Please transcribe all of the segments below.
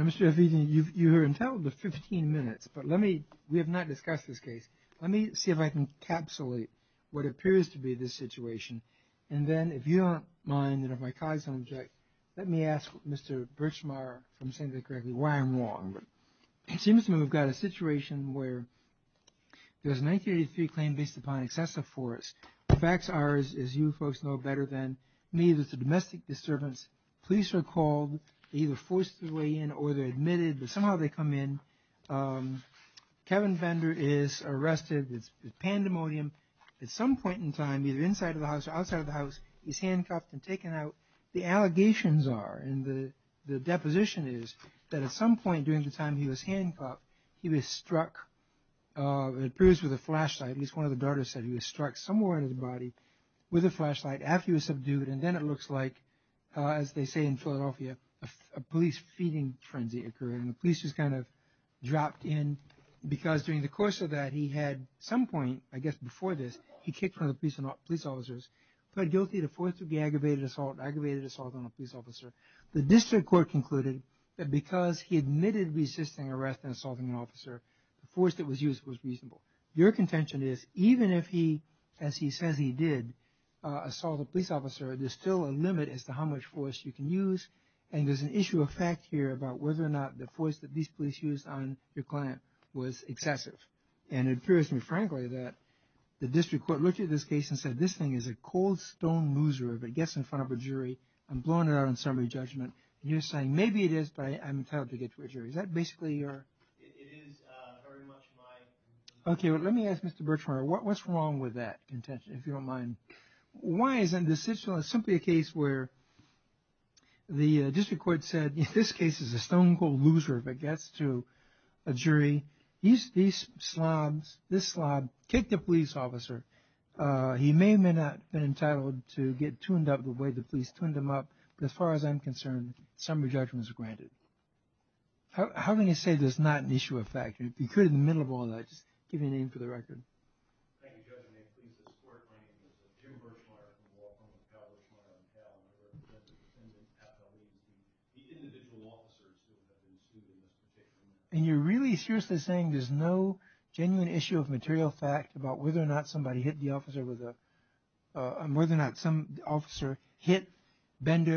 Mr. F. Egan, you are entitled to 15 minutes, but we have not discussed this case. Let me see if I can encapsulate what appears to be the situation, and then if you don't mind that if my colleagues don't object, let me ask Mr. Birchmeier, if I'm saying that correctly, why I'm wrong. It seems to me we've got a situation where there's a 1983 claim based upon excessive force. The facts are, as you folks know better than me, that it's a domestic disturbance. Police are called. They're either forced their way in or they're admitted, but somehow they come in. Kevin Bender is arrested. It's pandemonium. At some point in time, either inside of the house or outside of the house, he's handcuffed and taken out. The allegations are, and the deposition is, that at some point during the time he was handcuffed, he was struck, it appears with a flashlight, at least one of the daughters said he was struck somewhere in his body with a flashlight after he was subdued, and then it looks like, as they say in Philadelphia, a police feeding frenzy occurred, and the police just kind of dropped in, because during the course of that, he had some point, I guess before this, he kicked one of the police officers, pled guilty to forcefully aggravated assault on a police officer. The district court concluded that because he admitted resisting arrest and assaulting an officer, the force that was used was reasonable. Your contention is, even if he, as he says he did, assault a police officer, there's still a limit as to how much force you can use, and there's an issue of fact here about whether or not the force that these police used on your client was excessive. And it appears to me, frankly, that the district court looked at this case and said, this thing is a cold stone loser if it gets in front of a jury and blown it out on summary judgment. And you're saying, maybe it is, but I'm entitled to get to a jury. Is that basically your... It is very much my... OK, well, let me ask Mr. Birchmire, what's wrong with that contention, if you don't mind? Why isn't this simply a case where the district court said this case is a stone cold loser if it gets to a jury? These slobs, this slob kicked a police officer. He may or may not have been entitled to get tuned up the way the police tuned him up. But as far as I'm concerned, summary judgment is granted. How can you say there's not an issue of fact? And if you could, in the middle of all that, just give me a name for the record. Thank you, Judge. My name is Tim Birchmire from Waltham and Cal Birchmire from Cal, and I represent the defendant, Pat W. And you're really seriously saying there's no genuine issue of material fact about whether or not somebody hit the officer with a...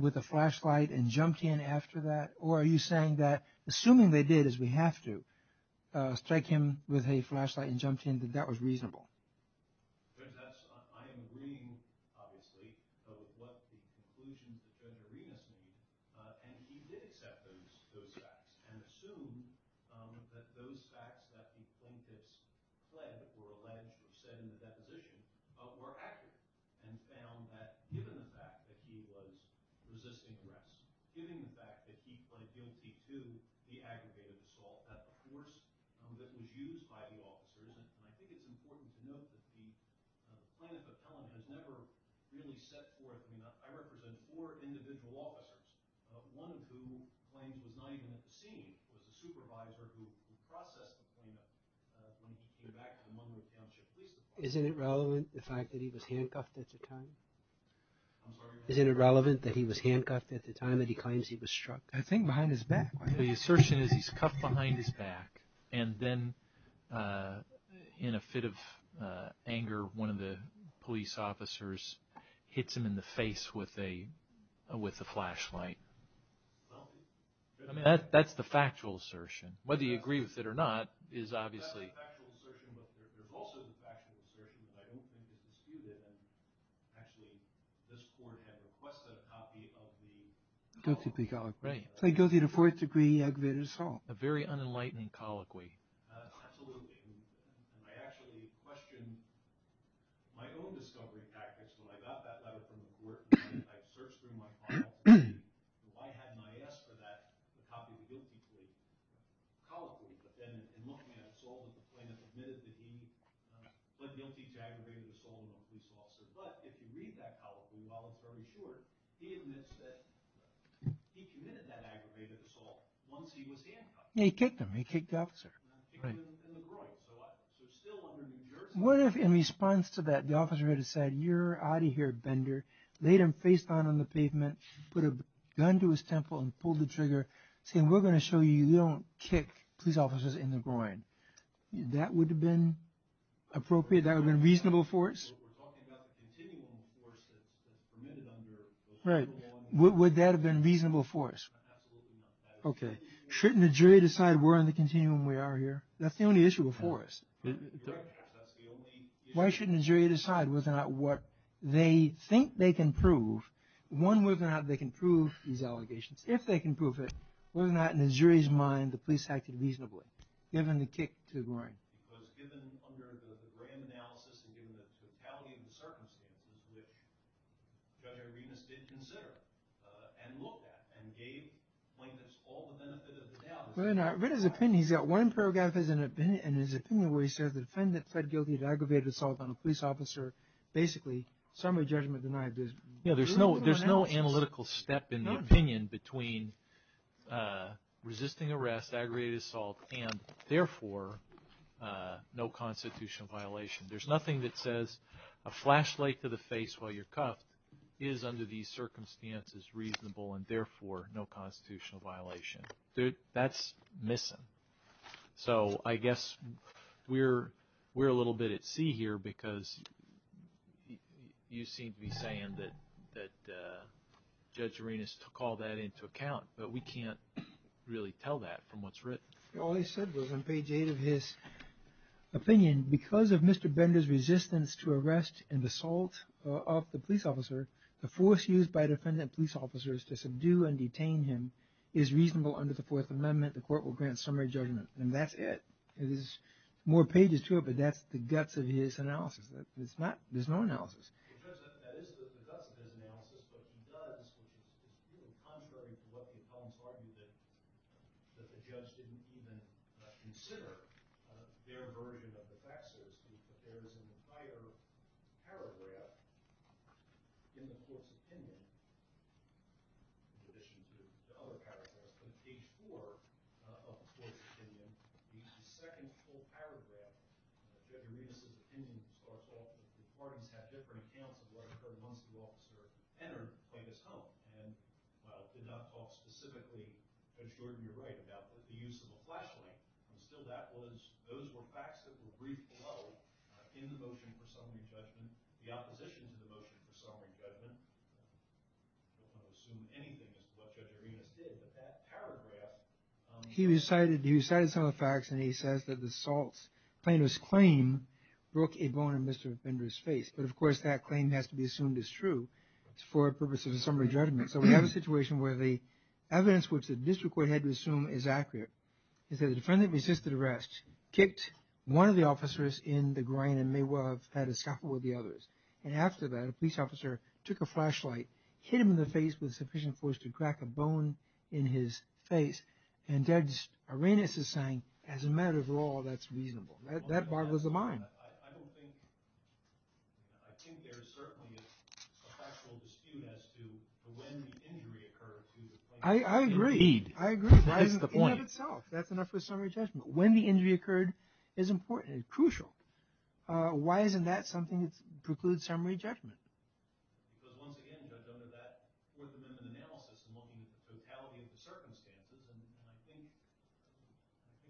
with a flashlight and jumped in after that? Or are you saying that, assuming they did, as we have to, strike him with a flashlight and jumped in, that that was reasonable? Judge, I am agreeing, obviously, with what the conclusion that Judge Arenas made, and he did accept those facts and assume that those facts that the plaintiffs pled or alleged or said in the deposition were accurate and found that, given the fact that he was resisting arrest, given the fact that he pled guilty to the aggregated assault, that the force that was used by the officers, and I think it's important to note that the plaintiff appellant has never really set forth... I mean, I represent four individual officers, one of whom claims was not even at the scene, was a supervisor who processed the plaintiff when he came back to the Monmouth Township Police Department. Isn't it relevant, the fact that he was handcuffed at the time? Isn't it relevant that he was handcuffed at the time that he claims he was struck? I think behind his back. The assertion is he's cuffed behind his back, and then, in a fit of anger, one of the police officers hits him in the face with a flashlight. That's the factual assertion. Whether you agree with it or not is obviously... It's a factual assertion, but there's also the factual assertion that I don't think is disputed. Actually, this court had requested a copy of the... Guilty plea colloquy. Guilty to fourth degree aggravated assault. A very unenlightening colloquy. Absolutely. I actually questioned my own discovery practice when I got that letter from the court. I searched through my file. I had an I.S. for that, a copy of the guilty plea colloquy. But then, in looking at it, the plaintiff admitted that he pled guilty to aggravated assault on a police officer. But, if you read that colloquy, while it's very short, he admits that he committed that aggravated assault once he was handcuffed. He kicked him. He kicked the officer. He kicked him in the groin. So, still under New Jersey... What if, in response to that, the officer had said, you're out of here, bender. Laid him face down on the pavement. Put a gun to his temple and pulled the trigger. Saying, we're going to show you we don't kick police officers in the groin. That would have been appropriate? That would have been reasonable for us? We're talking about the continuum of force that's permitted under... Right. Would that have been reasonable for us? Absolutely not. Okay. Shouldn't a jury decide we're on the continuum we are here? That's the only issue before us. Why shouldn't a jury decide whether or not what they think they can prove. One, whether or not they can prove these allegations. If they can prove it, whether or not, in the jury's mind, the police acted reasonably. Given the kick to the groin. Judge Arenas did consider, and looked at, and gave plaintiffs all the benefit of the doubt. I read his opinion. He's got one paragraph in his opinion where he says, the defendant pled guilty to aggravated assault on a police officer. Basically, summary judgment denied. There's no analytical step in the opinion between resisting arrest, aggravated assault, and therefore, no constitutional violation. There's nothing that says, a flashlight to the face while you're cuffed, is under these circumstances reasonable, and therefore, no constitutional violation. That's missing. So, I guess, we're a little bit at sea here, because you seem to be saying that Judge Arenas took all that into account, but we can't really tell that from what's written. All he said was, on page 8 of his opinion, because of Mr. Bender's resistance to arrest and assault of the police officer, the force used by defendant police officers to subdue and detain him is reasonable under the Fourth Amendment. The court will grant summary judgment. And that's it. There's more pages to it, but that's the guts of his analysis. There's no analysis. In terms of the guts of his analysis, what he does, which is really contrary to what the opponents argue, that the judge didn't even consider their version of the facts, is that there is an entire paragraph in the court's opinion, in addition to other paragraphs, on page 4 of the court's opinion, the second full paragraph of Judge Arenas' opinion, which starts off with, the court has had different accounts of what occurred once the officer entered Plaintiff's home, and while it did not talk specifically, Judge Jordan, you're right, about the use of a flashlight, still that was, those were facts that were briefed below in the motion for summary judgment. The opposition to the motion for summary judgment, I don't want to assume anything as to what Judge Arenas did, but that paragraph... He recited some of the facts, and he says that the assault's plaintiff's claim broke a bone in Mr. Bender's face, but of course that claim has to be assumed as true for purposes of summary judgment. So we have a situation where the evidence, which the district court had to assume is accurate, is that the defendant resisted arrest, kicked one of the officers in the groin, and may well have had a scuffle with the others, and after that, a police officer took a flashlight, hit him in the face with sufficient force to crack a bone in his face, and Judge Arenas is saying, as a matter of law, that's reasonable. That boggles the mind. I don't think... I think there is certainly a factual dispute as to when the injury occurred to the plaintiff. I agree, I agree. That is the point. In and of itself, that's enough for summary judgment. When the injury occurred is important, crucial. Why isn't that something that precludes summary judgment? Because once again, Judge, under that Fourth Amendment analysis, and looking at the totality of the circumstances, and I think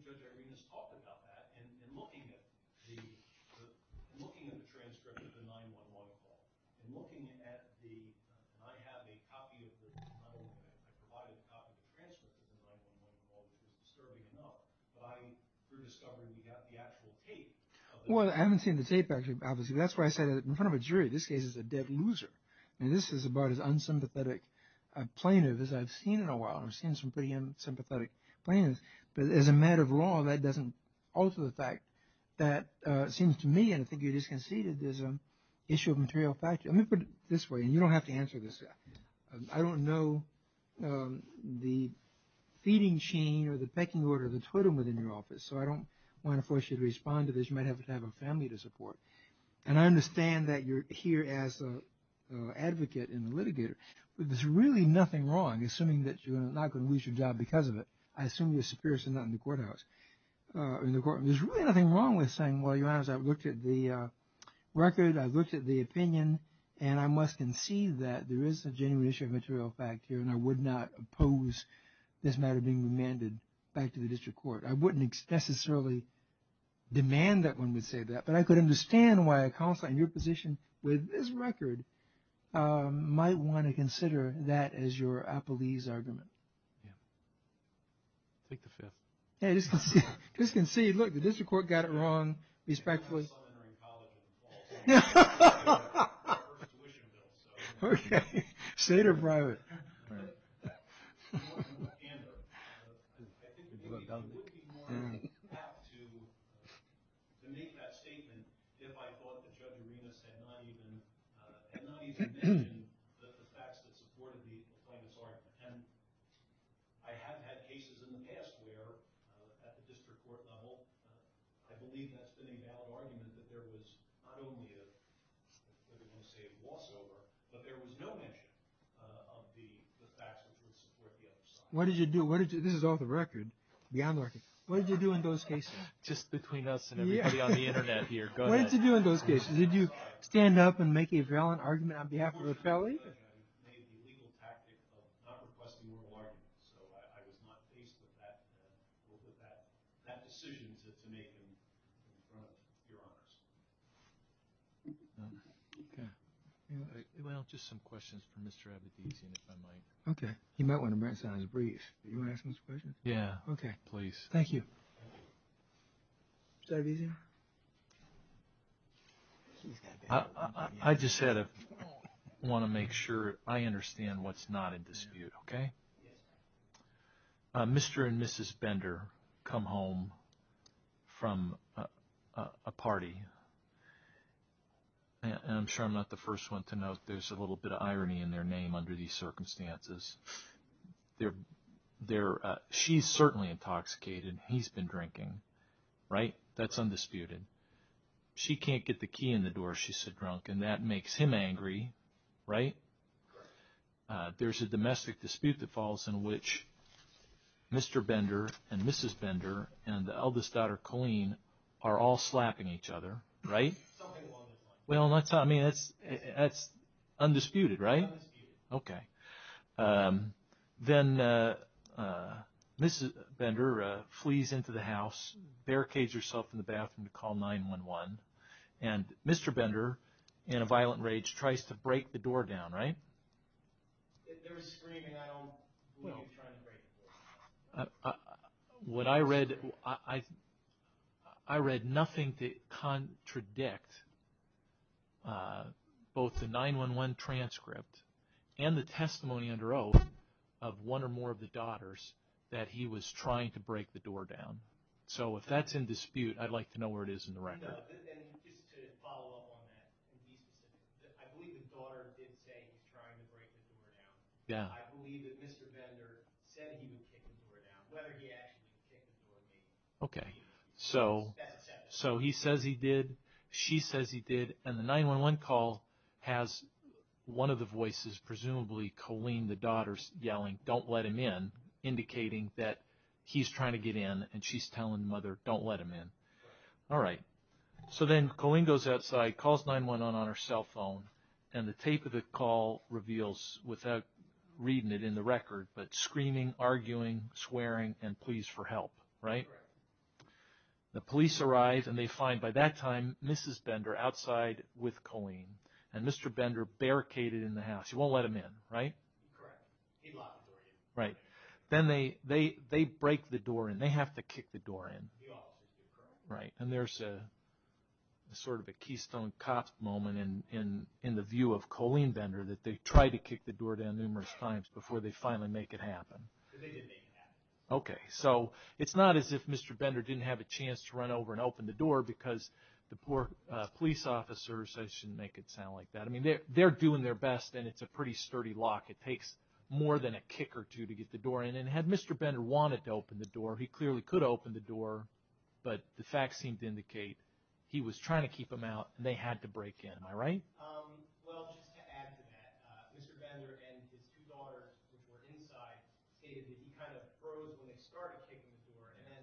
Judge Arenas talked about that, and looking at the transcript of the 9-1-1 call, and looking at the... I have a copy of the... I provided a copy of the transcript of the 9-1-1 call, which is disturbing enough, but through discovery, we got the actual tape. Well, I haven't seen the tape, obviously. That's why I said that in front of a jury, this case is a dead loser, and this is about as unsympathetic a plaintiff as I've seen in a while. I've seen some pretty unsympathetic plaintiffs, but as a matter of law, that doesn't alter the fact that it seems to me, and I think you just conceded, there's an issue of material fact. Let me put it this way, and you don't have to answer this. I don't know the feeding chain, or the pecking order, or the totem within your office, so I don't want to force you to respond to this. You might have to have a family to support, and I understand that you're here as an advocate and a litigator, but there's really nothing wrong, assuming that you're not going to lose your job because of it. I assume you're a superior, so not in the courthouse. There's really nothing wrong with saying, well, your Honor, I've looked at the record, I've looked at the opinion, and I must concede that there is a genuine issue of material fact here, and I would not oppose this matter being remanded back to the district court. I wouldn't necessarily demand that one would say that, but I could understand why a counselor in your position with this record might want to consider that as your appellee's argument. Take the fifth. I just concede, look, the district court got it wrong, respectfully. Okay, state or private? What did you do? This is off the record, beyond the record. What did you do in those cases? Just between us and everybody on the Internet here. What did you do in those cases? Did you stand up and make a valiant argument on behalf of the appellee? I made the legal tactic of not requesting oral arguments, so I was not faced with that decision to make in front of your Honors. Okay. Well, just some questions for Mr. Abedizian, if I might. Okay. He might want to bring us out on his brief. Do you want to ask him a question? Yeah. Okay. Please. Thank you. Mr. Abedizian? I just want to make sure I understand what's not in dispute, okay? Mr. and Mrs. Bender come home from a party, and I'm sure I'm not the first one to note there's a little bit of irony in their name under these circumstances. She's certainly intoxicated. He's been drinking. Right? That's undisputed. She can't get the key in the door. She's so drunk, and that makes him angry, right? Right. There's a domestic dispute that falls in which Mr. Bender and Mrs. Bender and the eldest daughter, Colleen, are all slapping each other, right? Something along those lines. Well, I mean, that's undisputed, right? Undisputed. Okay. Then Mrs. Bender flees into the house, barricades herself in the bathroom to call 911, and Mr. Bender, in a violent rage, tries to break the door down, right? There was screaming. I don't believe he was trying to break the door down. What I read, I read nothing to contradict both the 911 transcript and the testimony under oath of one or more of the daughters that he was trying to break the door down. So if that's in dispute, I'd like to know where it is in the record. Just to follow up on that, I believe the daughter did say he was trying to break the door down. I believe that Mr. Bender said he would kick the door down, whether he actually kicked the door down. Okay. So he says he did, she says he did, and the 911 call has one of the voices, presumably Colleen, the daughter, yelling, don't let him in, indicating that he's trying to get in and she's telling the mother, don't let him in. All right. So then Colleen goes outside, calls 911 on her cell phone, and the tape of the call reveals, without reading it in the record, but screaming, arguing, swearing, and please for help. Right? Correct. The police arrive and they find by that time Mrs. Bender outside with Colleen, and Mr. Bender barricaded in the house. He won't let him in, right? Correct. He'd lock the door in. Right. Then they break the door in. They have to kick the door in. They have to kick the door in. Correct. Right. And there's sort of a Keystone Cops moment in the view of Colleen Bender that they try to kick the door down numerous times before they finally make it happen. They didn't make it happen. Okay. So it's not as if Mr. Bender didn't have a chance to run over and open the door because the poor police officers, I shouldn't make it sound like that. I mean, they're doing their best and it's a pretty sturdy lock. It takes more than a kick or two to get the door in. And had Mr. Bender wanted to open the door, he clearly could open the door, but the facts seem to indicate he was trying to keep them out and they had to break in. Am I right? Well, just to add to that, Mr. Bender and his two daughters, who were inside, stated that he kind of froze when they started kicking the door and then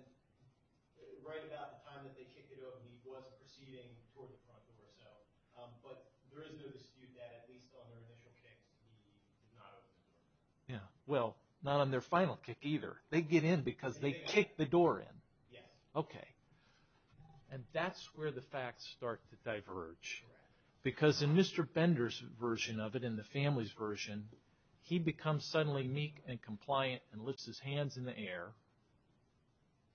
right about the time that they kicked it open, he was proceeding toward the front door. But there is no dispute that at least on their initial kick, he did not open the door. Yeah. Well, not on their final kick either. They get in because they kicked the door in. Yes. Okay. And that's where the facts start to diverge. Because in Mr. Bender's version of it and the family's version, he becomes suddenly meek and compliant and lifts his hands in the air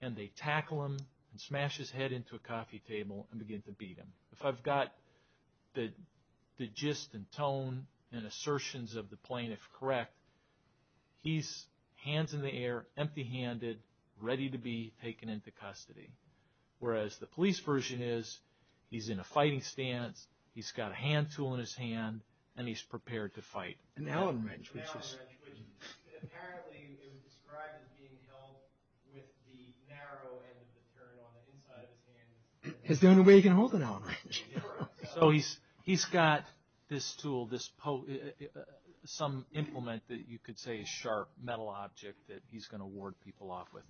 and they tackle him and smash his head into a coffee table and begin to beat him. If I've got the gist and tone and assertions of the plaintiff correct, he's hands in the air, empty-handed, ready to be taken into custody. Whereas the police version is he's in a fighting stance, he's got a hand tool in his hand, and he's prepared to fight. An Allen wrench. An Allen wrench, which apparently it was described as being held with the narrow end of the material on the inside of his hand. It's the only way you can hold an Allen wrench. So he's got this tool, some implement that you could say is a sharp metal object that he's going to ward people off with.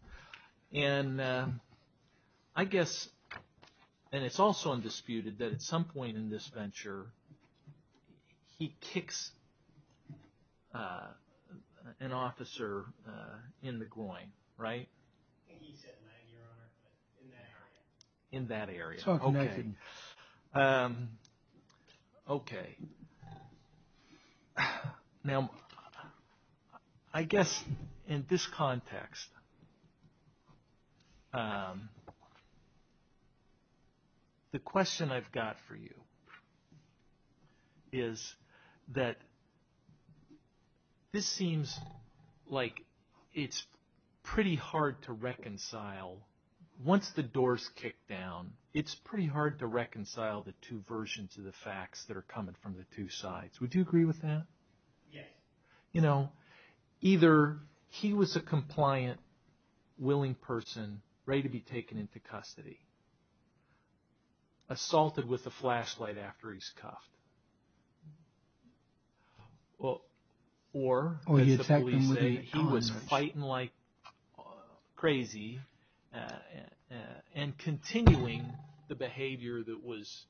And I guess, and it's also undisputed, that at some point in this venture, he kicks an officer in the groin. Right? He's hit in that area. In that area. Okay. Okay. Now, I guess in this context, the question I've got for you is that this seems like it's pretty hard to reconcile. Once the doors kick down, it's pretty hard to reconcile the two versions of the facts that are coming from the two sides. Would you agree with that? Yes. You know, either he was a compliant, willing person, ready to be taken into custody, assaulted with a flashlight after he's cuffed, or, as the police say, he was fighting like crazy and continuing the behavior that was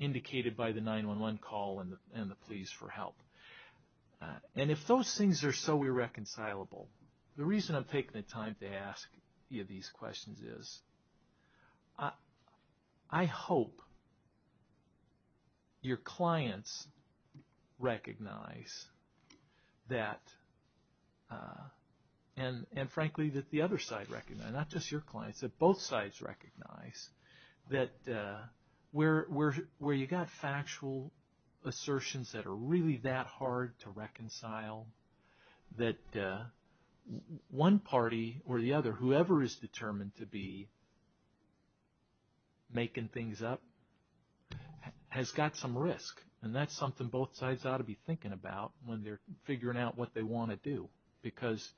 indicated by the 911 call and the pleas for help. And if those things are so irreconcilable, the reason I'm taking the time to ask you these questions is, I hope your clients recognize that, and frankly that the other side recognizes, not just your clients, that both sides recognize that where you've got factual assertions that one party or the other, whoever is determined to be making things up, has got some risk. And that's something both sides ought to be thinking about when they're figuring out what they want to do. Because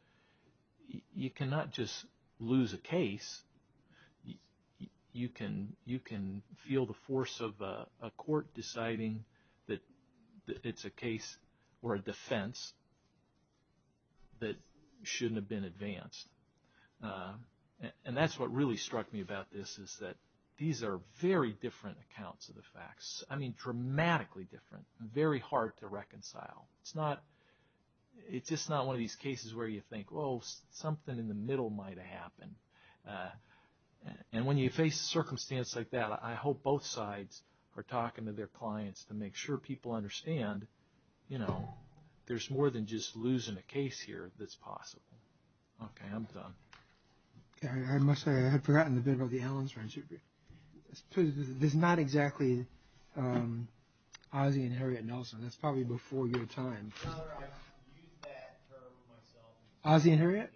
you cannot just lose a case. You can feel the force of a court deciding that it's a case or a defense, that shouldn't have been advanced. And that's what really struck me about this, is that these are very different accounts of the facts. I mean, dramatically different. Very hard to reconcile. It's just not one of these cases where you think, well, something in the middle might have happened. And when you face a circumstance like that, to make sure people understand, you know, there's more than just losing a case here that's possible. Okay, I'm done. Okay, I must say, I had forgotten a bit about the elements. There's not exactly Ossie and Harriet Nelson. That's probably before your time. I've used that term myself. Ossie and Harriet?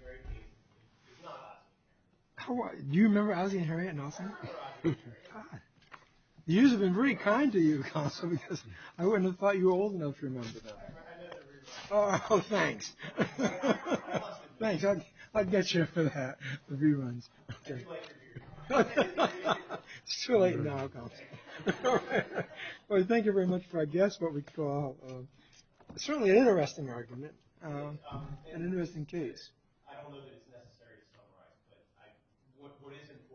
It's not Ossie. Do you remember Ossie and Harriet Nelson? I remember Ossie and Harriet. You guys have been very kind to you, because I wouldn't have thought you were old enough to remember that. I know the reruns. Oh, thanks. I'll get you for that, the reruns. It's too late for you. It's too late now. Well, thank you very much for I guess what we call certainly an interesting argument, an interesting case. I don't know that it's necessary to summarize, but what is important is that